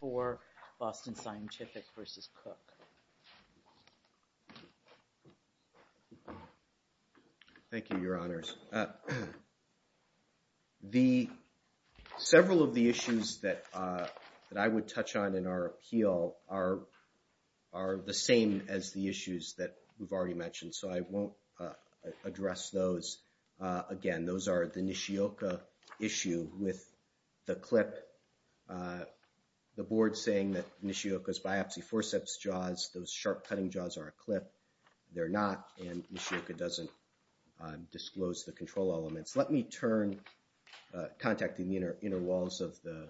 for Boston Scientific v. Cook. Thank you, Your Honors. Several of the issues that I would touch on in our appeal are the same as the issues that we've already mentioned, so I won't address those again. And those are the Nishioka issue with the clip, the board saying that Nishioka's biopsy forceps jaws, those sharp cutting jaws are a clip. They're not, and Nishioka doesn't disclose the control elements. Let me turn, contacting the inner walls of the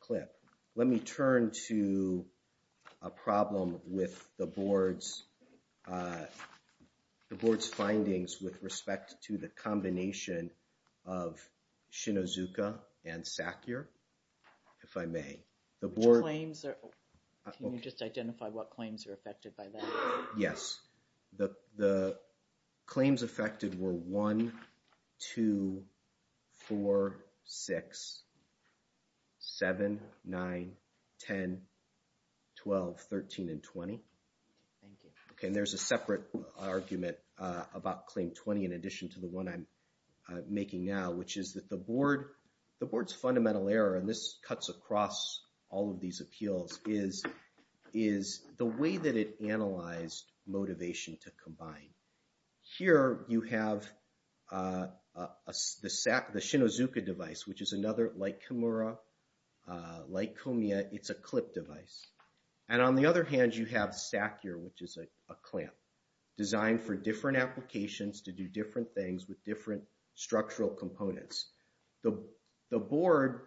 clip, let me turn to a problem with the to the combination of Shinozuka and Sackyer, if I may. The board... Which claims are... Can you just identify what claims are affected by that? Yes. The claims affected were 1, 2, 4, 6, 7, 9, 10, 12, 13, and 20. Thank you. And there's a separate argument about claim 20 in addition to the one I'm making now, which is that the board's fundamental error, and this cuts across all of these appeals, is the way that it analyzed motivation to combine. Here you have the Shinozuka device, which is another, like Kimura, like Komiya, it's a clip device. And on the other hand, you have Sackyer, which is a clamp designed for different applications to do different things with different structural components. The board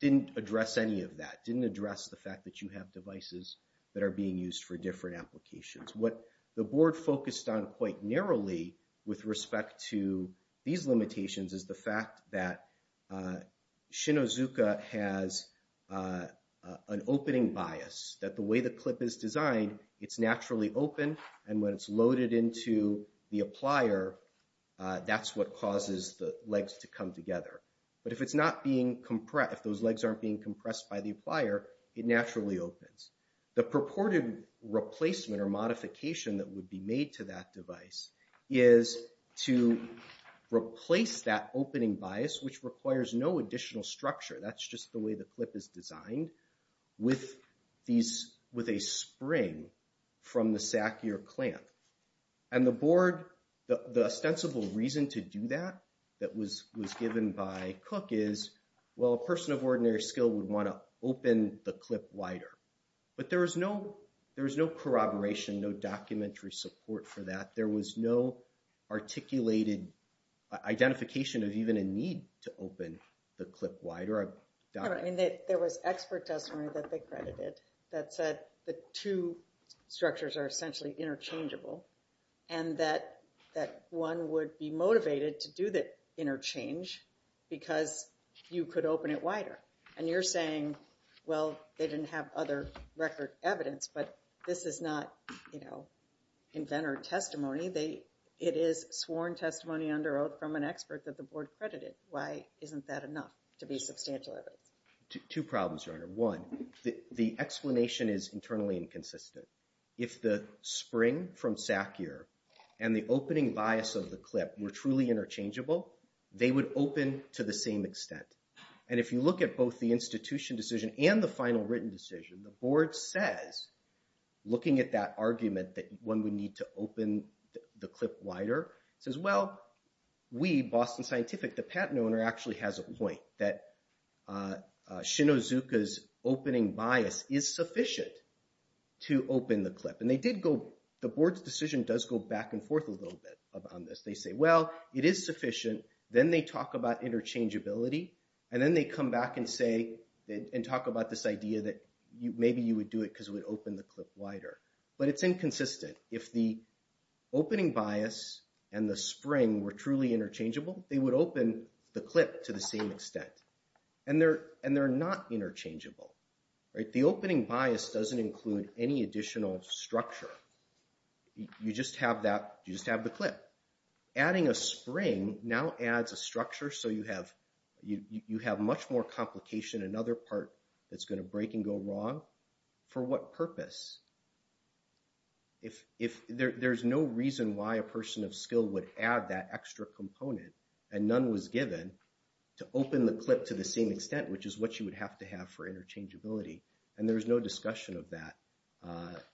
didn't address any of that, didn't address the fact that you have devices that are being used for different applications. What the board focused on quite narrowly with respect to these limitations is the fact that an opening bias, that the way the clip is designed, it's naturally open. And when it's loaded into the applier, that's what causes the legs to come together. But if it's not being compressed, if those legs aren't being compressed by the applier, it naturally opens. The purported replacement or modification that would be made to that device is to replace that opening bias, which requires no additional structure. That's just the way the clip is designed with a spring from the Sackyer clamp. And the board, the ostensible reason to do that that was given by Cook is, well, a person of ordinary skill would want to open the clip wider. But there was no corroboration, no documentary support for that. There was no articulated identification of even a need to open the clip wider. There was expert testimony that they credited that said the two structures are essentially interchangeable and that one would be motivated to do the interchange because you could open it wider. And you're saying, well, they didn't have other record evidence. But this is not, you know, inventor testimony. It is sworn testimony under oath from an expert that the board credited. Why isn't that enough to be substantial evidence? Two problems, Your Honor. One, the explanation is internally inconsistent. If the spring from Sackyer and the opening bias of the clip were truly interchangeable, they would open to the same extent. And if you look at both the institution decision and the final written decision, the board says, looking at that argument that one would need to open the clip wider, says, well, we, Boston Scientific, the patent owner actually has a point that Shinozuka's opening bias is sufficient to open the clip. And they did go, the board's decision does go back and forth a little bit on this. They say, well, it is sufficient. Then they talk about interchangeability. And then they come back and say, and talk about this idea that maybe you would do it because it would open the clip wider. But it's inconsistent. If the opening bias and the spring were truly interchangeable, they would open the clip to the same extent. And they're not interchangeable, right? The opening bias doesn't include any additional structure. You just have that, you just have the clip. Adding a spring now adds a structure so you have much more complication, another part that's going to break and go wrong. For what purpose? If, there's no reason why a person of skill would add that extra component and none was given to open the clip to the same extent, which is what you would have to have for interchangeability. And there's no discussion of that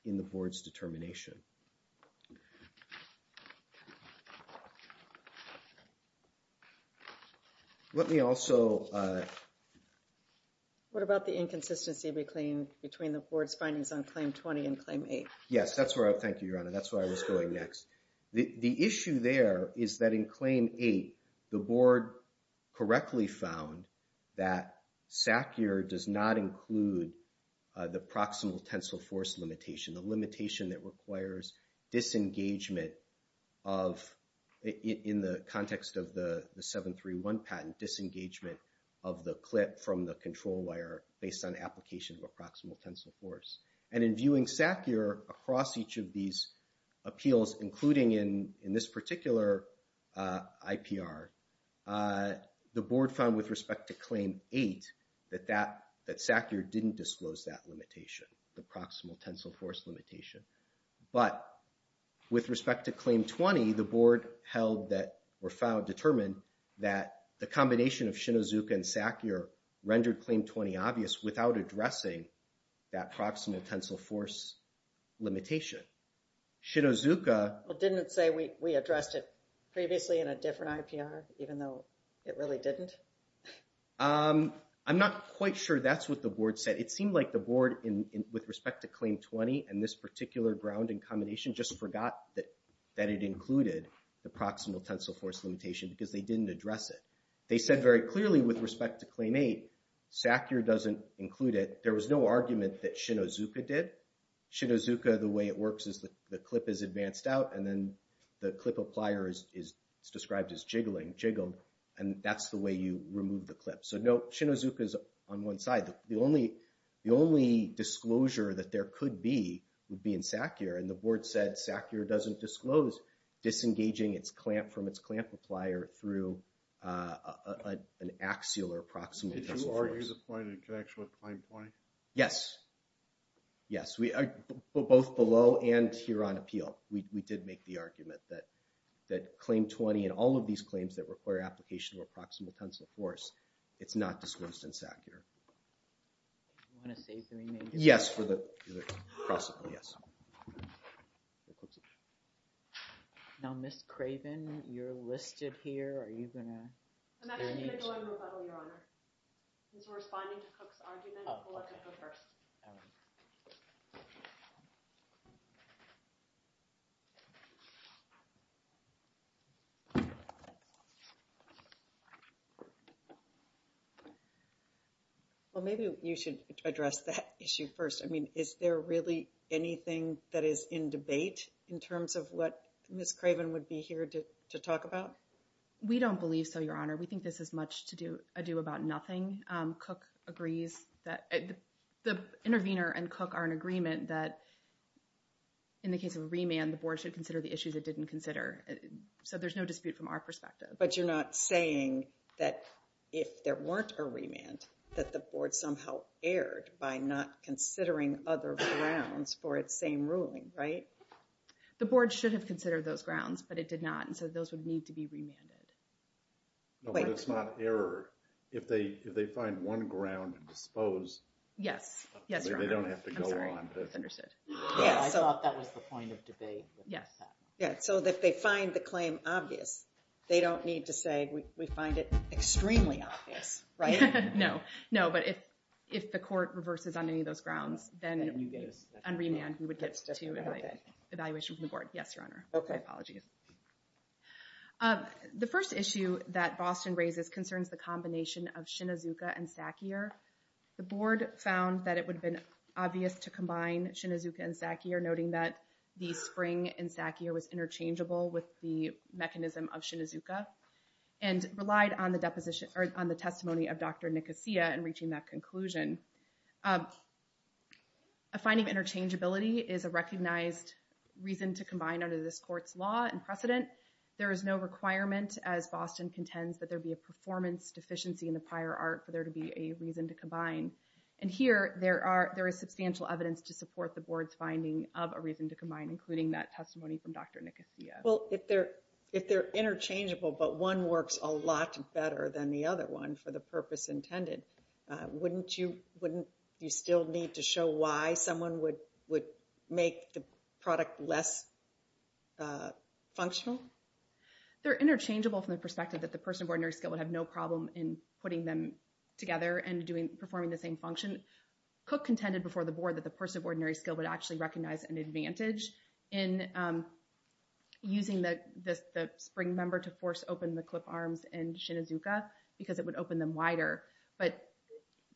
in the board's determination. Let me also. What about the inconsistency between the board's findings on claim 20 and claim 8? Yes, that's where I, thank you, Your Honor, that's where I was going next. The issue there is that in claim 8, the board correctly found that SACIR does not include the proximal tensile force limitation, the limitation that requires disengagement of, in the context of the 731 patent, disengagement of the clip from the control wire based on application of a proximal tensile force. And in viewing SACIR across each of these appeals, including in this particular IPR, the board found with respect to claim 8 that SACIR didn't disclose that limitation, the proximal tensile force limitation. But with respect to claim 20, the board held that, or found, determined that the combination of Shinozuka and SACIR rendered claim 20 obvious without addressing that proximal tensile force limitation. Shinozuka... Well, didn't it say we addressed it previously in a different IPR, even though it really didn't? I'm not quite sure that's what the board said. It seemed like the board, with respect to claim 20 and this particular grounding combination, just forgot that it included the proximal tensile force limitation because they didn't address it. They said very clearly with respect to claim 8, SACIR doesn't include it. There was no argument that Shinozuka did. Shinozuka, the way it works is the clip is advanced out and then the clip applier is described as jiggling, jiggled, and that's the way you remove the clip. So no, Shinozuka is on one side. The only disclosure that there could be would be in SACIR. And the board said SACIR doesn't disclose disengaging its clamp from its clamp applier through an axial or proximal tensile force. Are you disappointed in connection with claim 20? Yes. Yes. Both below and here on appeal, we did make the argument that claim 20 and all of these claims that require application of a proximal tensile force, it's not disclosed in SACIR. You want to save the remainder? Yes, for the proximal, yes. Now, Ms. Craven, you're listed here. Are you going to? I'm actually going to go on the level, Your Honor. Since we're responding to Cook's argument, I'm going to go first. All right. Well, maybe you should address that issue first. I mean, is there really anything that is in debate in terms of what Ms. Craven would be here to talk about? We don't believe so, Your Honor. We think this is much ado about nothing. Cook agrees that the intervener and Cook are in agreement that in the case of a remand, the board should consider the issues it didn't consider. So there's no dispute from our perspective. But you're not saying that if there weren't a remand, that the board somehow erred by not considering other grounds for its same ruling, right? The board should have considered those grounds, but it did not. And so those would need to be remanded. No, but it's not error. If they find one ground and dispose. Yes. Yes, Your Honor. They don't have to go on. I'm sorry. That's understood. I thought that was the point of debate. Yes. Yeah. So if they find the claim obvious, they don't need to say, we find it extremely obvious, right? No. No. But if the court reverses on any of those grounds, then on remand, we would get to evaluation from the board. Yes, Your Honor. OK. My apologies. The first issue that Boston raises concerns the combination of Shinazuka and Sakier. The board found that it would have been obvious to combine Shinazuka and Sakier, noting that the spring in Sakier was interchangeable with the mechanism of Shinazuka, and relied on the deposition, or on the testimony of Dr. Nicosia in reaching that conclusion. A finding interchangeability is a recognized reason to combine under this court's law, and precedent. There is no requirement, as Boston contends, that there be a performance deficiency in the prior art for there to be a reason to combine. And here, there is substantial evidence to support the board's finding of a reason to combine, including that testimony from Dr. Nicosia. Well, if they're interchangeable, but one works a lot better than the other one for the purpose intended, wouldn't you still need to show why someone would make the product less functional? They're interchangeable from the perspective that the person of ordinary skill would have no problem in putting them together and performing the same function. Cook contended before the board that the person of ordinary skill would actually recognize an advantage in using the spring member to force open the clip arms in Shinazuka, because it would open them wider. But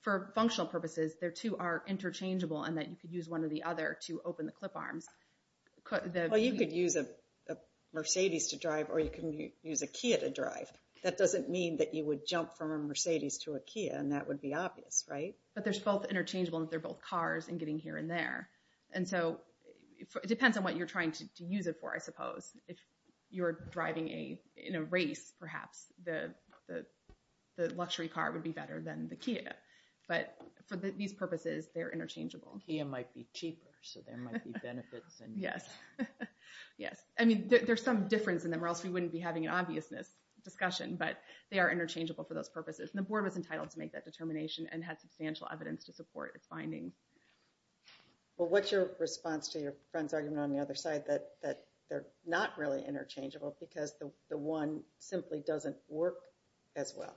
for functional purposes, their two are interchangeable, and that you could use one or the other to open the clip arms. Well, you could use a Mercedes to drive, or you can use a Kia to drive. That doesn't mean that you would jump from a Mercedes to a Kia, and that would be obvious, right? But they're both interchangeable, and they're both cars, and getting here and there. And so it depends on what you're trying to use it for, I suppose. If you're driving in a race, perhaps, the luxury car would be better than the Kia. But for these purposes, they're interchangeable. Kia might be cheaper, so there might be benefits. Yes. I mean, there's some difference in them, or else we wouldn't be having an obviousness discussion. But they are interchangeable for those purposes. And the board was entitled to make that determination and had substantial evidence to support its findings. Well, what's your response to your friend's argument on the other side that they're not really interchangeable because the one simply doesn't work as well?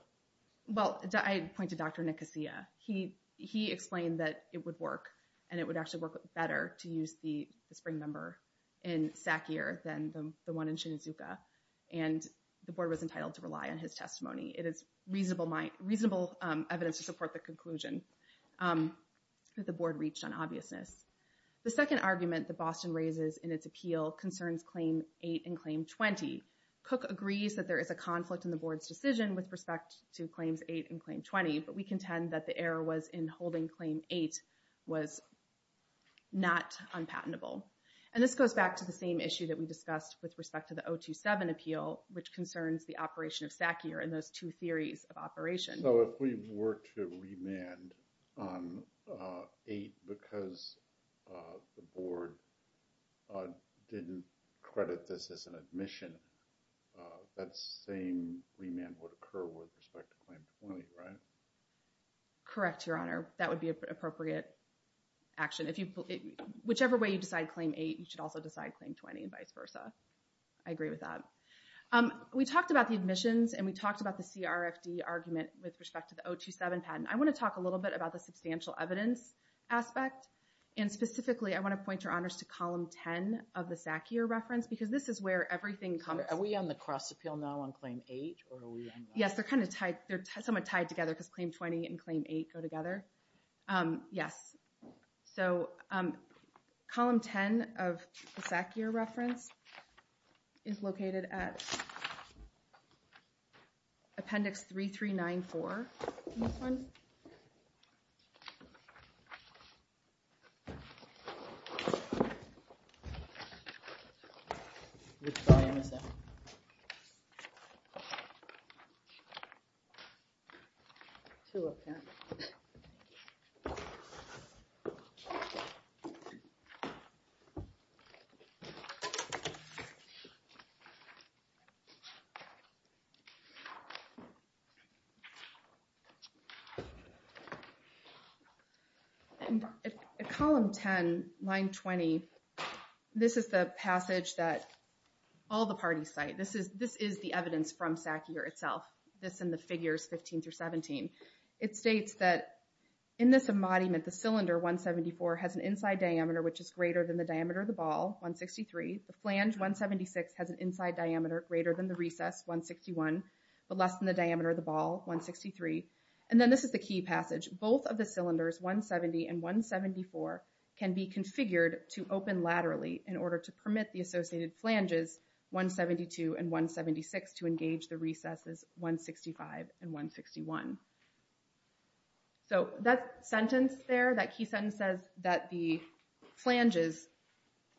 Well, I'd point to Dr. Nicosia. He explained that it would work, and it would actually work better to use the spring member in Sakier than the one in Shinizuka. And the board was entitled to rely on his testimony. It is reasonable evidence to support the conclusion that the board reached on obviousness. The second argument that Boston raises in its appeal concerns Claim 8 and Claim 20. Cook agrees that there is a conflict in the board's decision with respect to Claims 8 and Claim 20. But we contend that the error was in holding Claim 8 was not unpatentable. And this goes back to the same issue that we discussed with respect to the 027 appeal, which concerns the operation of Sakier and those two theories of operation. So if we were to remand on 8 because the board didn't credit this as an admission, that same remand would occur with respect to Claim 20, right? Correct, Your Honor. That would be an appropriate action. Whichever way you decide Claim 8, you should also decide Claim 20, and vice versa. I agree with that. We talked about the admissions, and we talked about the CRFD argument with respect to the 027 patent. I want to talk a little bit about the substantial evidence aspect. And specifically, I want to point Your Honors to Column 10 of the Sakier reference, because this is where everything comes. Are we on the cross appeal now on Claim 8, or are we on that? Yes, they're kind of tied. They're somewhat tied together, because Claim 20 and Claim 8 go together. Yes. So Column 10 of the Sakier reference is located at Appendix 3394. And at Column 10, Line 20, this is the passage that all the parties cite. This is the evidence from Sakier itself. This in the figures 15 through 17. It states that in this embodiment, the cylinder 174 has an inside diameter, which is greater than the diameter of the ball, 163. The flange 176 has an inside diameter greater than the recess, 161, but less than the diameter of the ball, 163. And then this is the key passage. Both of the cylinders, 170 and 174, can be configured to open laterally in order to permit the associated flanges 172 and 176 to engage the recesses 165 and 161. So that sentence there, that key sentence says that the flanges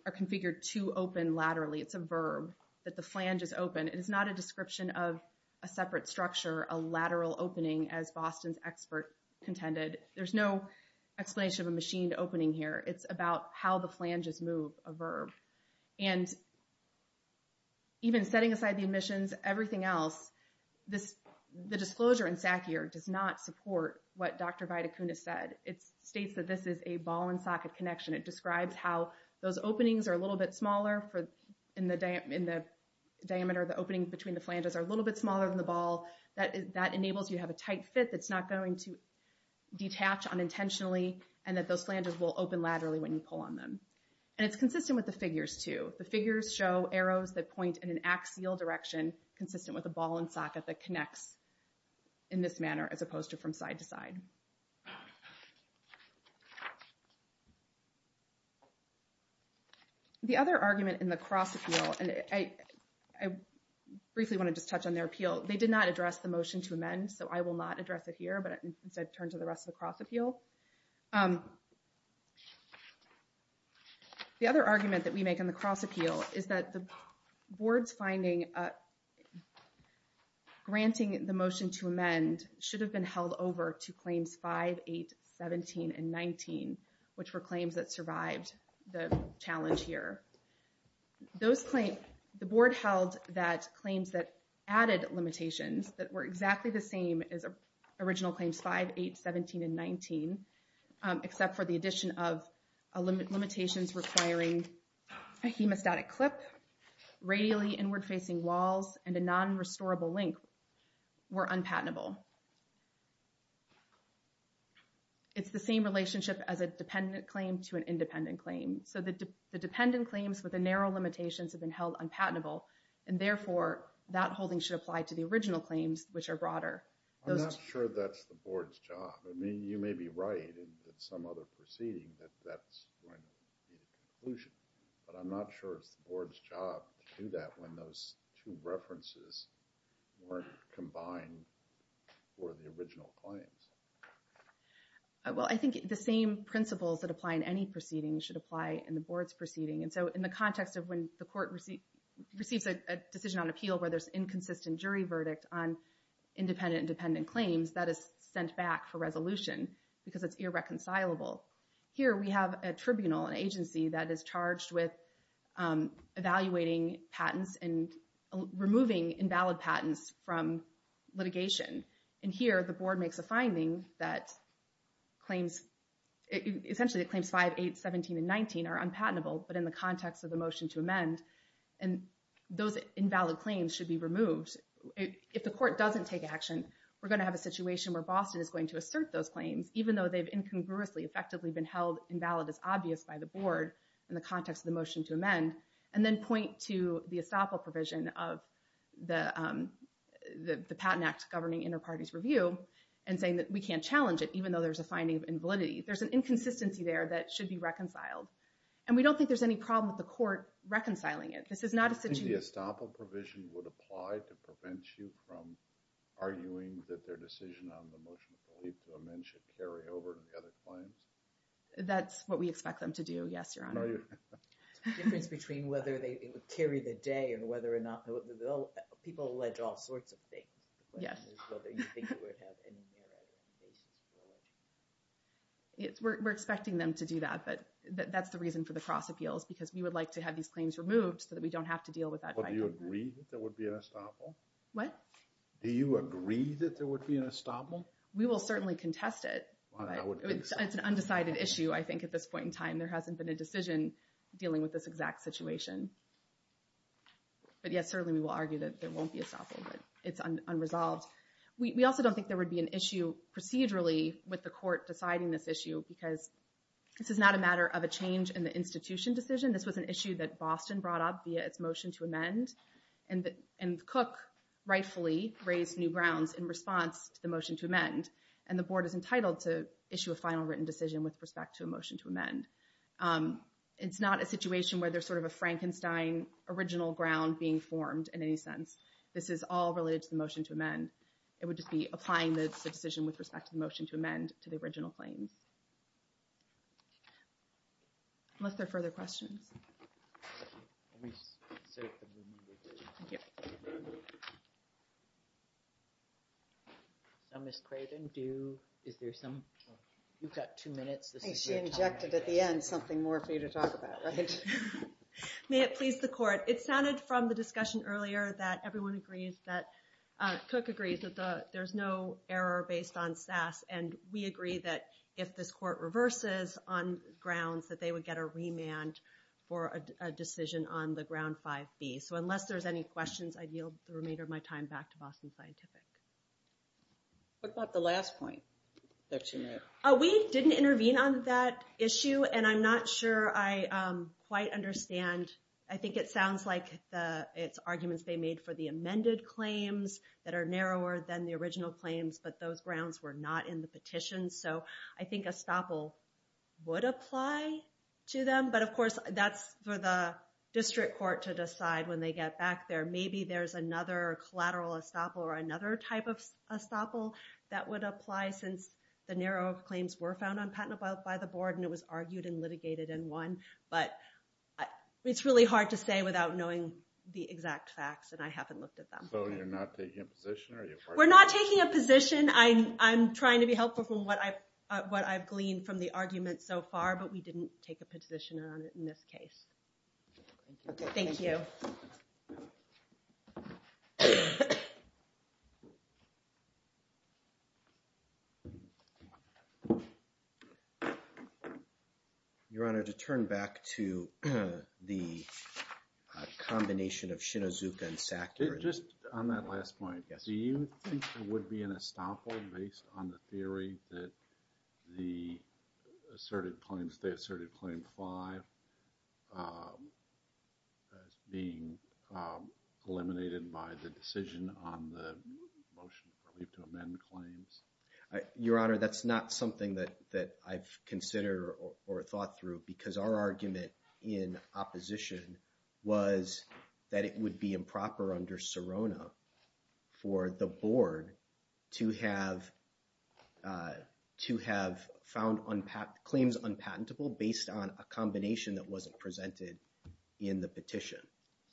are configured to open laterally. It's a verb, that the flange is open. It is not a description of a separate structure, a lateral opening, as Boston's expert contended. There's no explanation of a machined opening here. It's about how the flanges move, a verb. And even setting aside the admissions, everything else, the disclosure in Sakier does not support what Dr. Vitacunas said. It states that this is a ball and socket connection. It describes how those openings are a little bit smaller in the diameter. The opening between the flanges are a little bit smaller than the ball. That enables you to have a tight fit that's not going to detach unintentionally, and that those flanges will open laterally when you pull on them. And it's consistent with the figures too. The figures show arrows that point in an axial direction, consistent with a ball and socket that connects in this manner, as opposed to from side to side. The other argument in the cross appeal, and I briefly want to just touch on their appeal. They did not address the motion to amend, so I will not address it here, but instead turn to the rest of the cross appeal. The other argument that we make on the cross appeal is that the board's finding granting the motion to amend should have been held over to claims 5, 8, 17, and 19, which were claims that survived the challenge here. The board held that claims that added limitations that were exactly the same as original claims 5, 8, 17, and 19, except for the addition of limitations requiring a hemostatic clip, radially inward facing walls, and a non-restorable link were unpatentable. It's the same relationship as a dependent claim to an independent claim. So the dependent claims with the narrow limitations have been held unpatentable, and therefore that holding should apply to the original claims, which are broader. I'm not sure that's the board's job. You may be right in some other proceeding that that's going to be the conclusion, but I'm not sure it's the board's job to do that when those two references weren't combined for the original claims. Well, I think the same principles that apply in any proceeding should apply in the board's proceeding. And so in the context of when the court receives a decision on appeal where there's inconsistent jury verdict on independent and dependent claims, that is sent back for resolution, because it's irreconcilable. Here we have a tribunal, an agency, that is charged with evaluating patents and removing invalid patents from litigation. And here the board makes a finding that claims, essentially it claims 5, 8, 17, and 19 are unpatentable, but in the context of the motion to amend, and those invalid claims should be removed. If the court doesn't take action, we're going to have a situation where Boston is going to assert those claims, even though they've incongruously, effectively, been held invalid as obvious by the board in the context of the motion to amend, and then point to the estoppel provision of the Patent Act governing inter-parties review and saying that we can't challenge it, even though there's a finding of invalidity. There's an inconsistency there that should be reconciled. And we don't think there's any problem with the court reconciling it. This is not a situation- Do you think the estoppel provision would apply to prevent you from arguing that their decision on the motion to amend should carry over to the other claims? That's what we expect them to do, yes, Your Honor. No, you- Difference between whether it would carry the day or whether or not- People allege all sorts of things. Yes. The question is whether you think it would have any merit in the case as well. We're expecting them to do that, but that's the reason for the cross appeals, because we would like to have these claims removed so that we don't have to deal with that- Do you agree that there would be an estoppel? What? Do you agree that there would be an estoppel? We will certainly contest it. It's an undecided issue, I think, at this point in time. There hasn't been a decision dealing with this exact situation. But, yes, certainly we will argue that there won't be estoppel, but it's unresolved. We also don't think there would be an issue procedurally with the court deciding this issue, because this is not a matter of a change in the institution decision. This was an issue that Boston brought up via its motion to amend, and Cook rightfully raised new grounds in response to the motion to amend, and the board is entitled to issue a final written decision with respect to a motion to amend. It's not a situation where there's a Frankenstein original ground being formed in any sense. This is all related to the motion to amend. It would just be applying the decision with respect to the motion to amend to the original claims. Unless there are further questions. Let me just insert them immediately. Thank you. So, Ms. Creighton, do you, is there some, you've got two minutes. I think she injected at the end something more for you to talk about, right? May it please the court. It sounded from the discussion earlier that everyone agrees that, Cook agrees, that there's no error based on SAS, and we agree that if this court reverses on grounds that they would get a remand, for a decision on the ground 5B. So, unless there's any questions, I yield the remainder of my time back to Boston Scientific. What about the last point that she made? We didn't intervene on that issue, and I'm not sure I quite understand. I think it sounds like it's arguments they made for the amended claims that are narrower than the original claims, but those grounds were not in the petition. So, I think estoppel would apply to them, but of course, that's for the district court to decide when they get back there. Maybe there's another collateral estoppel, or another type of estoppel that would apply since the narrower claims were found on patent by the board, and it was argued and litigated and won. But, it's really hard to say without knowing the exact facts, and I haven't looked at them. So, you're not taking a position? We're not taking a position. I'm trying to be helpful from what I've gleaned from the argument so far, but we didn't take a position on it in this case. Thank you. Your Honor, to turn back to the combination of Shinozuka and Sackler. Just on that last point, do you think there would be an estoppel based on the theory that the asserted claims, the asserted claim five as being eliminated by the decision on the motion for leave to amend claims? Your Honor, that's not something that I've considered or thought through, because our argument in opposition was that it would be improper under Serona for the Board to have claims unpatentable based on a combination that wasn't presented in the petition.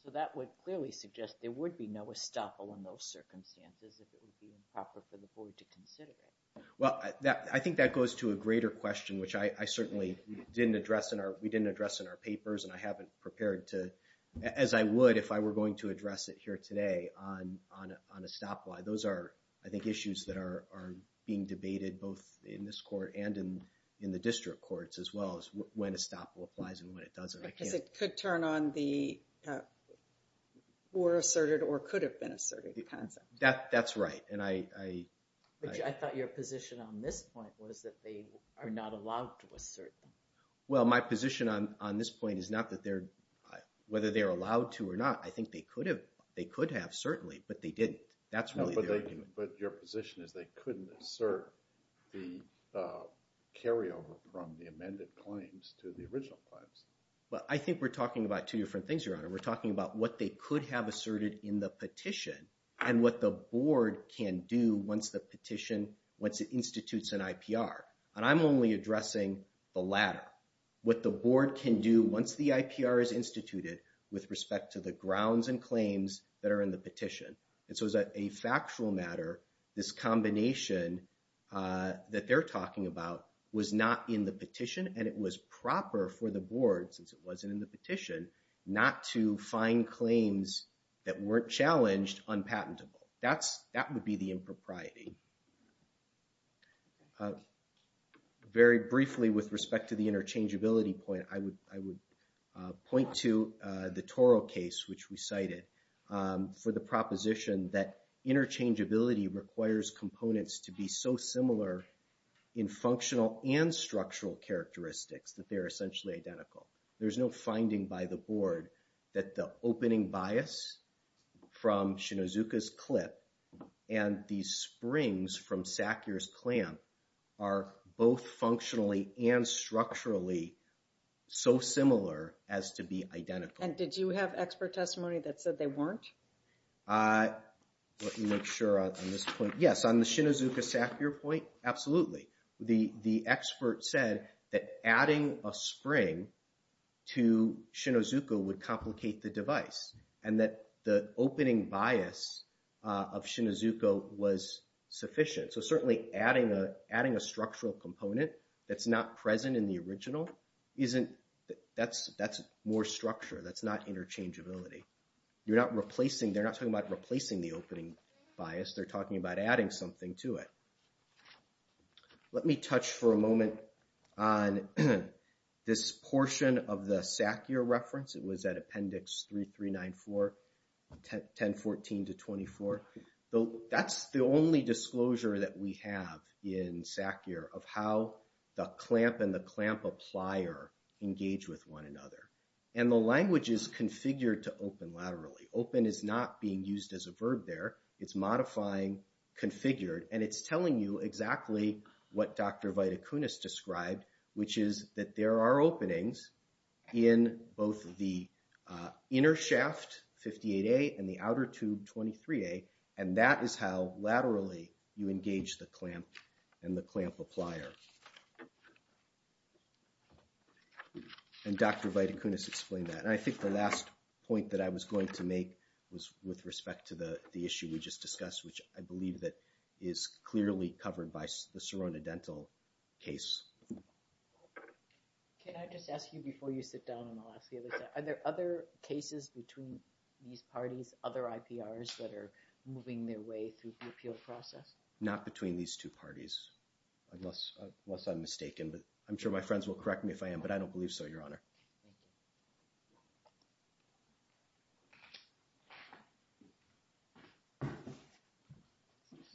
So, that would clearly suggest there would be no estoppel in those circumstances if it would be improper for the Board to consider it. Well, I think that goes to a greater question, which I certainly didn't address in our, we didn't address in our papers, and I haven't prepared to, as I would if I were going to address it here today, on estoppel. Those are, I think, issues that are being debated both in this Court and in the District Courts as well as when estoppel applies and when it doesn't. Because it could turn on the or asserted or could have been asserted concept. That's right. I thought your position on this point was that they are not allowed to assert them. Well, my position on this point is not that they're, whether they're allowed to or not, I think they could have, certainly, but they didn't. That's really the argument. But your position is they couldn't assert the carryover from the amended claims to the original claims. Well, I think we're talking about two different things, Your Honor. We're talking about what they could have asserted in the petition and what the Board can do once the petition, once it institutes an IPR. And I'm only addressing the latter. What the Board can do once the IPR is instituted with respect to the grounds and claims that are in the petition. And so as a factual matter, this combination that they're talking about was not in the petition and it was proper for the Board, since it wasn't in the petition, not to find claims that weren't challenged unpatentable. That would be the impropriety. Very briefly, with respect to the interchangeability point, I would point to the Toro case, which we cited. For the proposition that interchangeability requires components to be so similar in functional and structural characteristics that they're essentially identical. There's no finding by the Board that the opening bias from Shinozuka's clip and these springs from Sackyer's clamp are both functionally and structurally so similar as to be identical. And did you have expert testimony that said they weren't? I want to make sure on this point. Yes, on the Shinozuka-Sackyer point, absolutely. The expert said that adding a spring to Shinozuka would complicate the device and that the opening bias of Shinozuka was sufficient. So certainly adding a structural component that's not present in the original, that's more structure, that's not interchangeability. You're not replacing, they're not talking about replacing the opening bias. They're talking about adding something to it. Let me touch for a moment on this portion of the Sackyer reference. It was at Appendix 3394, 1014 to 24. That's the only disclosure that we have in Sackyer of how the clamp and the clamp applier engage with one another. And the language is configured to open laterally. Open is not being used as a verb there. It's modifying configured and it's telling you exactly what Dr. Viticunas described, which is that there are openings in both the inner shaft 58A and the outer tube 23A and that is how laterally you engage the clamp and the clamp applier. And Dr. Viticunas explained that. And I think the last point that I was going to make was with respect to the issue we just discussed, which I believe that is clearly covered by the Sirona Dental case. Can I just ask you before you sit down and I'll ask the other side, are there other cases between these parties, through the appeal process? Not between these two parties, unless other parties are involved. Unless I'm mistaken, but I'm sure my friends will correct me if I am, but I don't believe so, Your Honor.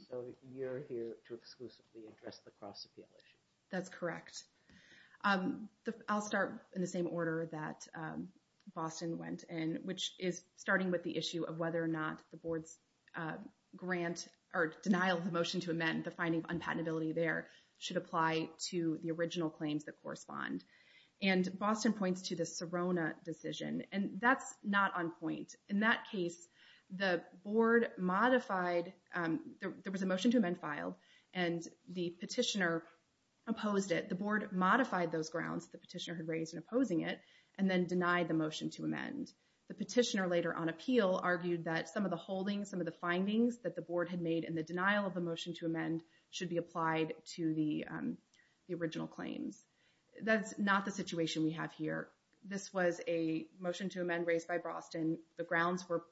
So you're here to exclusively address the cross-appeal issue. That's correct. I'll start in the same order that Boston went in, which is starting with the issue of whether or not the board's grant or denial of the motion to amend the finding of unpatentability there should apply to the original claims that correspond. And Boston points to the Sirona decision, and that's not on point. In that case, the board modified, there was a motion to amend filed and the petitioner opposed it. The board modified those grounds the petitioner had raised in opposing it and then denied the motion to amend. The petitioner later on appeal argued that some of the holdings, some of the findings that the board had made in the denial of the motion to amend should be applied to the original claims. That's not the situation we have here. This was a motion to amend raised by Boston. The grounds were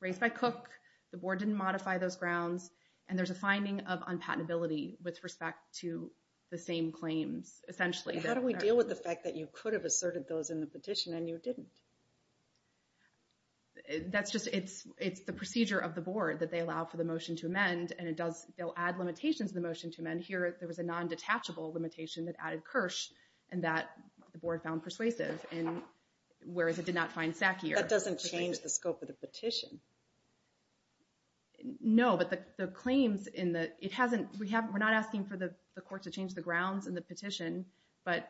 raised by Cook. The board didn't modify those grounds. And there's a finding of unpatentability with respect to the same claims, essentially. How do we deal with the fact that you could have asserted those in the petition and you didn't? That's just, it's the procedure of the board that they allow for the motion to amend and it does, they'll add limitations in the motion to amend. Here, there was a non-detachable limitation that added Kirsch and that the board found persuasive and whereas it did not find Sackyer. That doesn't change the scope of the petition. No, but the claims in the, it hasn't, we're not asking for the court to change the grounds in the petition but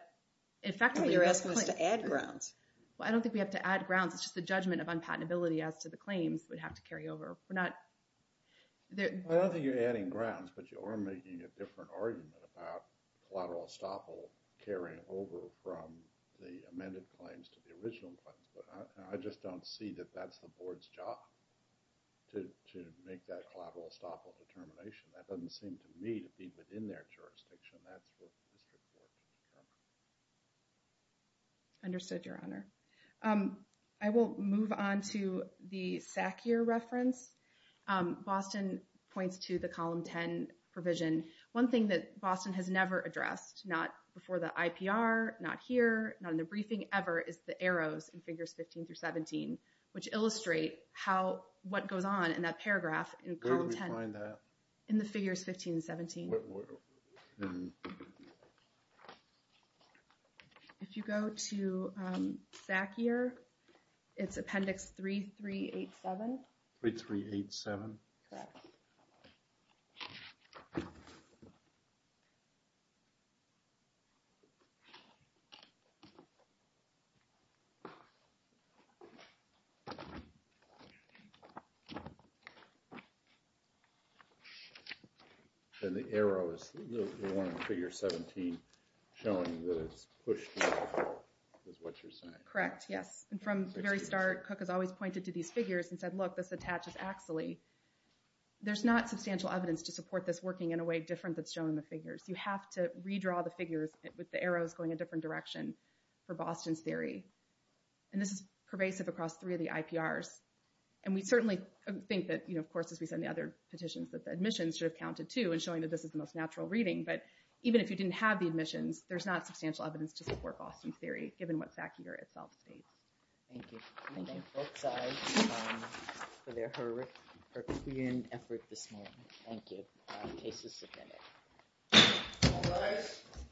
effectively... You're asking us to add grounds. Well, I don't think we have to add grounds. It's just the judgment of unpatentability as to the claims would have to carry over. We're not, there... I don't think you're adding grounds but you are making a different argument about collateral estoppel carrying over from the amended claims to the original claims but I just don't see that that's the board's job to make that collateral estoppel determination. That doesn't seem to me to be within their jurisdiction. That's where the district court can come in. Understood, Your Honor. I will move on to the Sackyer reference. Boston points to the column 10 provision. One thing that Boston has never addressed, not before the IPR, not here, not in the briefing ever is the arrows in figures 15 through 17 which illustrate how, what goes on in that paragraph in column 10. Where did we find that? In the figures 15 and 17. If you go to Sackyer, it's appendix 3387. 3387. And the arrow is the one in figure 17 showing that it's pushed off is what you're saying. Correct, yes. And from the very start, Cook has always pointed to these figures and said, look, this attaches axially. There's not substantial evidence to support this working in a way different that's shown in the figures. You have to redraw the figures with the arrows going a different direction for Boston's theory. And this is pervasive across three of the IPRs. And we certainly think that, of course, as we said in the other petitions that the admissions should have counted too and showing that this is the most natural reading. But even if you didn't have the admissions, there's not substantial evidence to support Boston's theory given what Sackyer itself states. Thank you. Thank you. Both sides for their herculean effort this morning. Thank you. Case is submitted.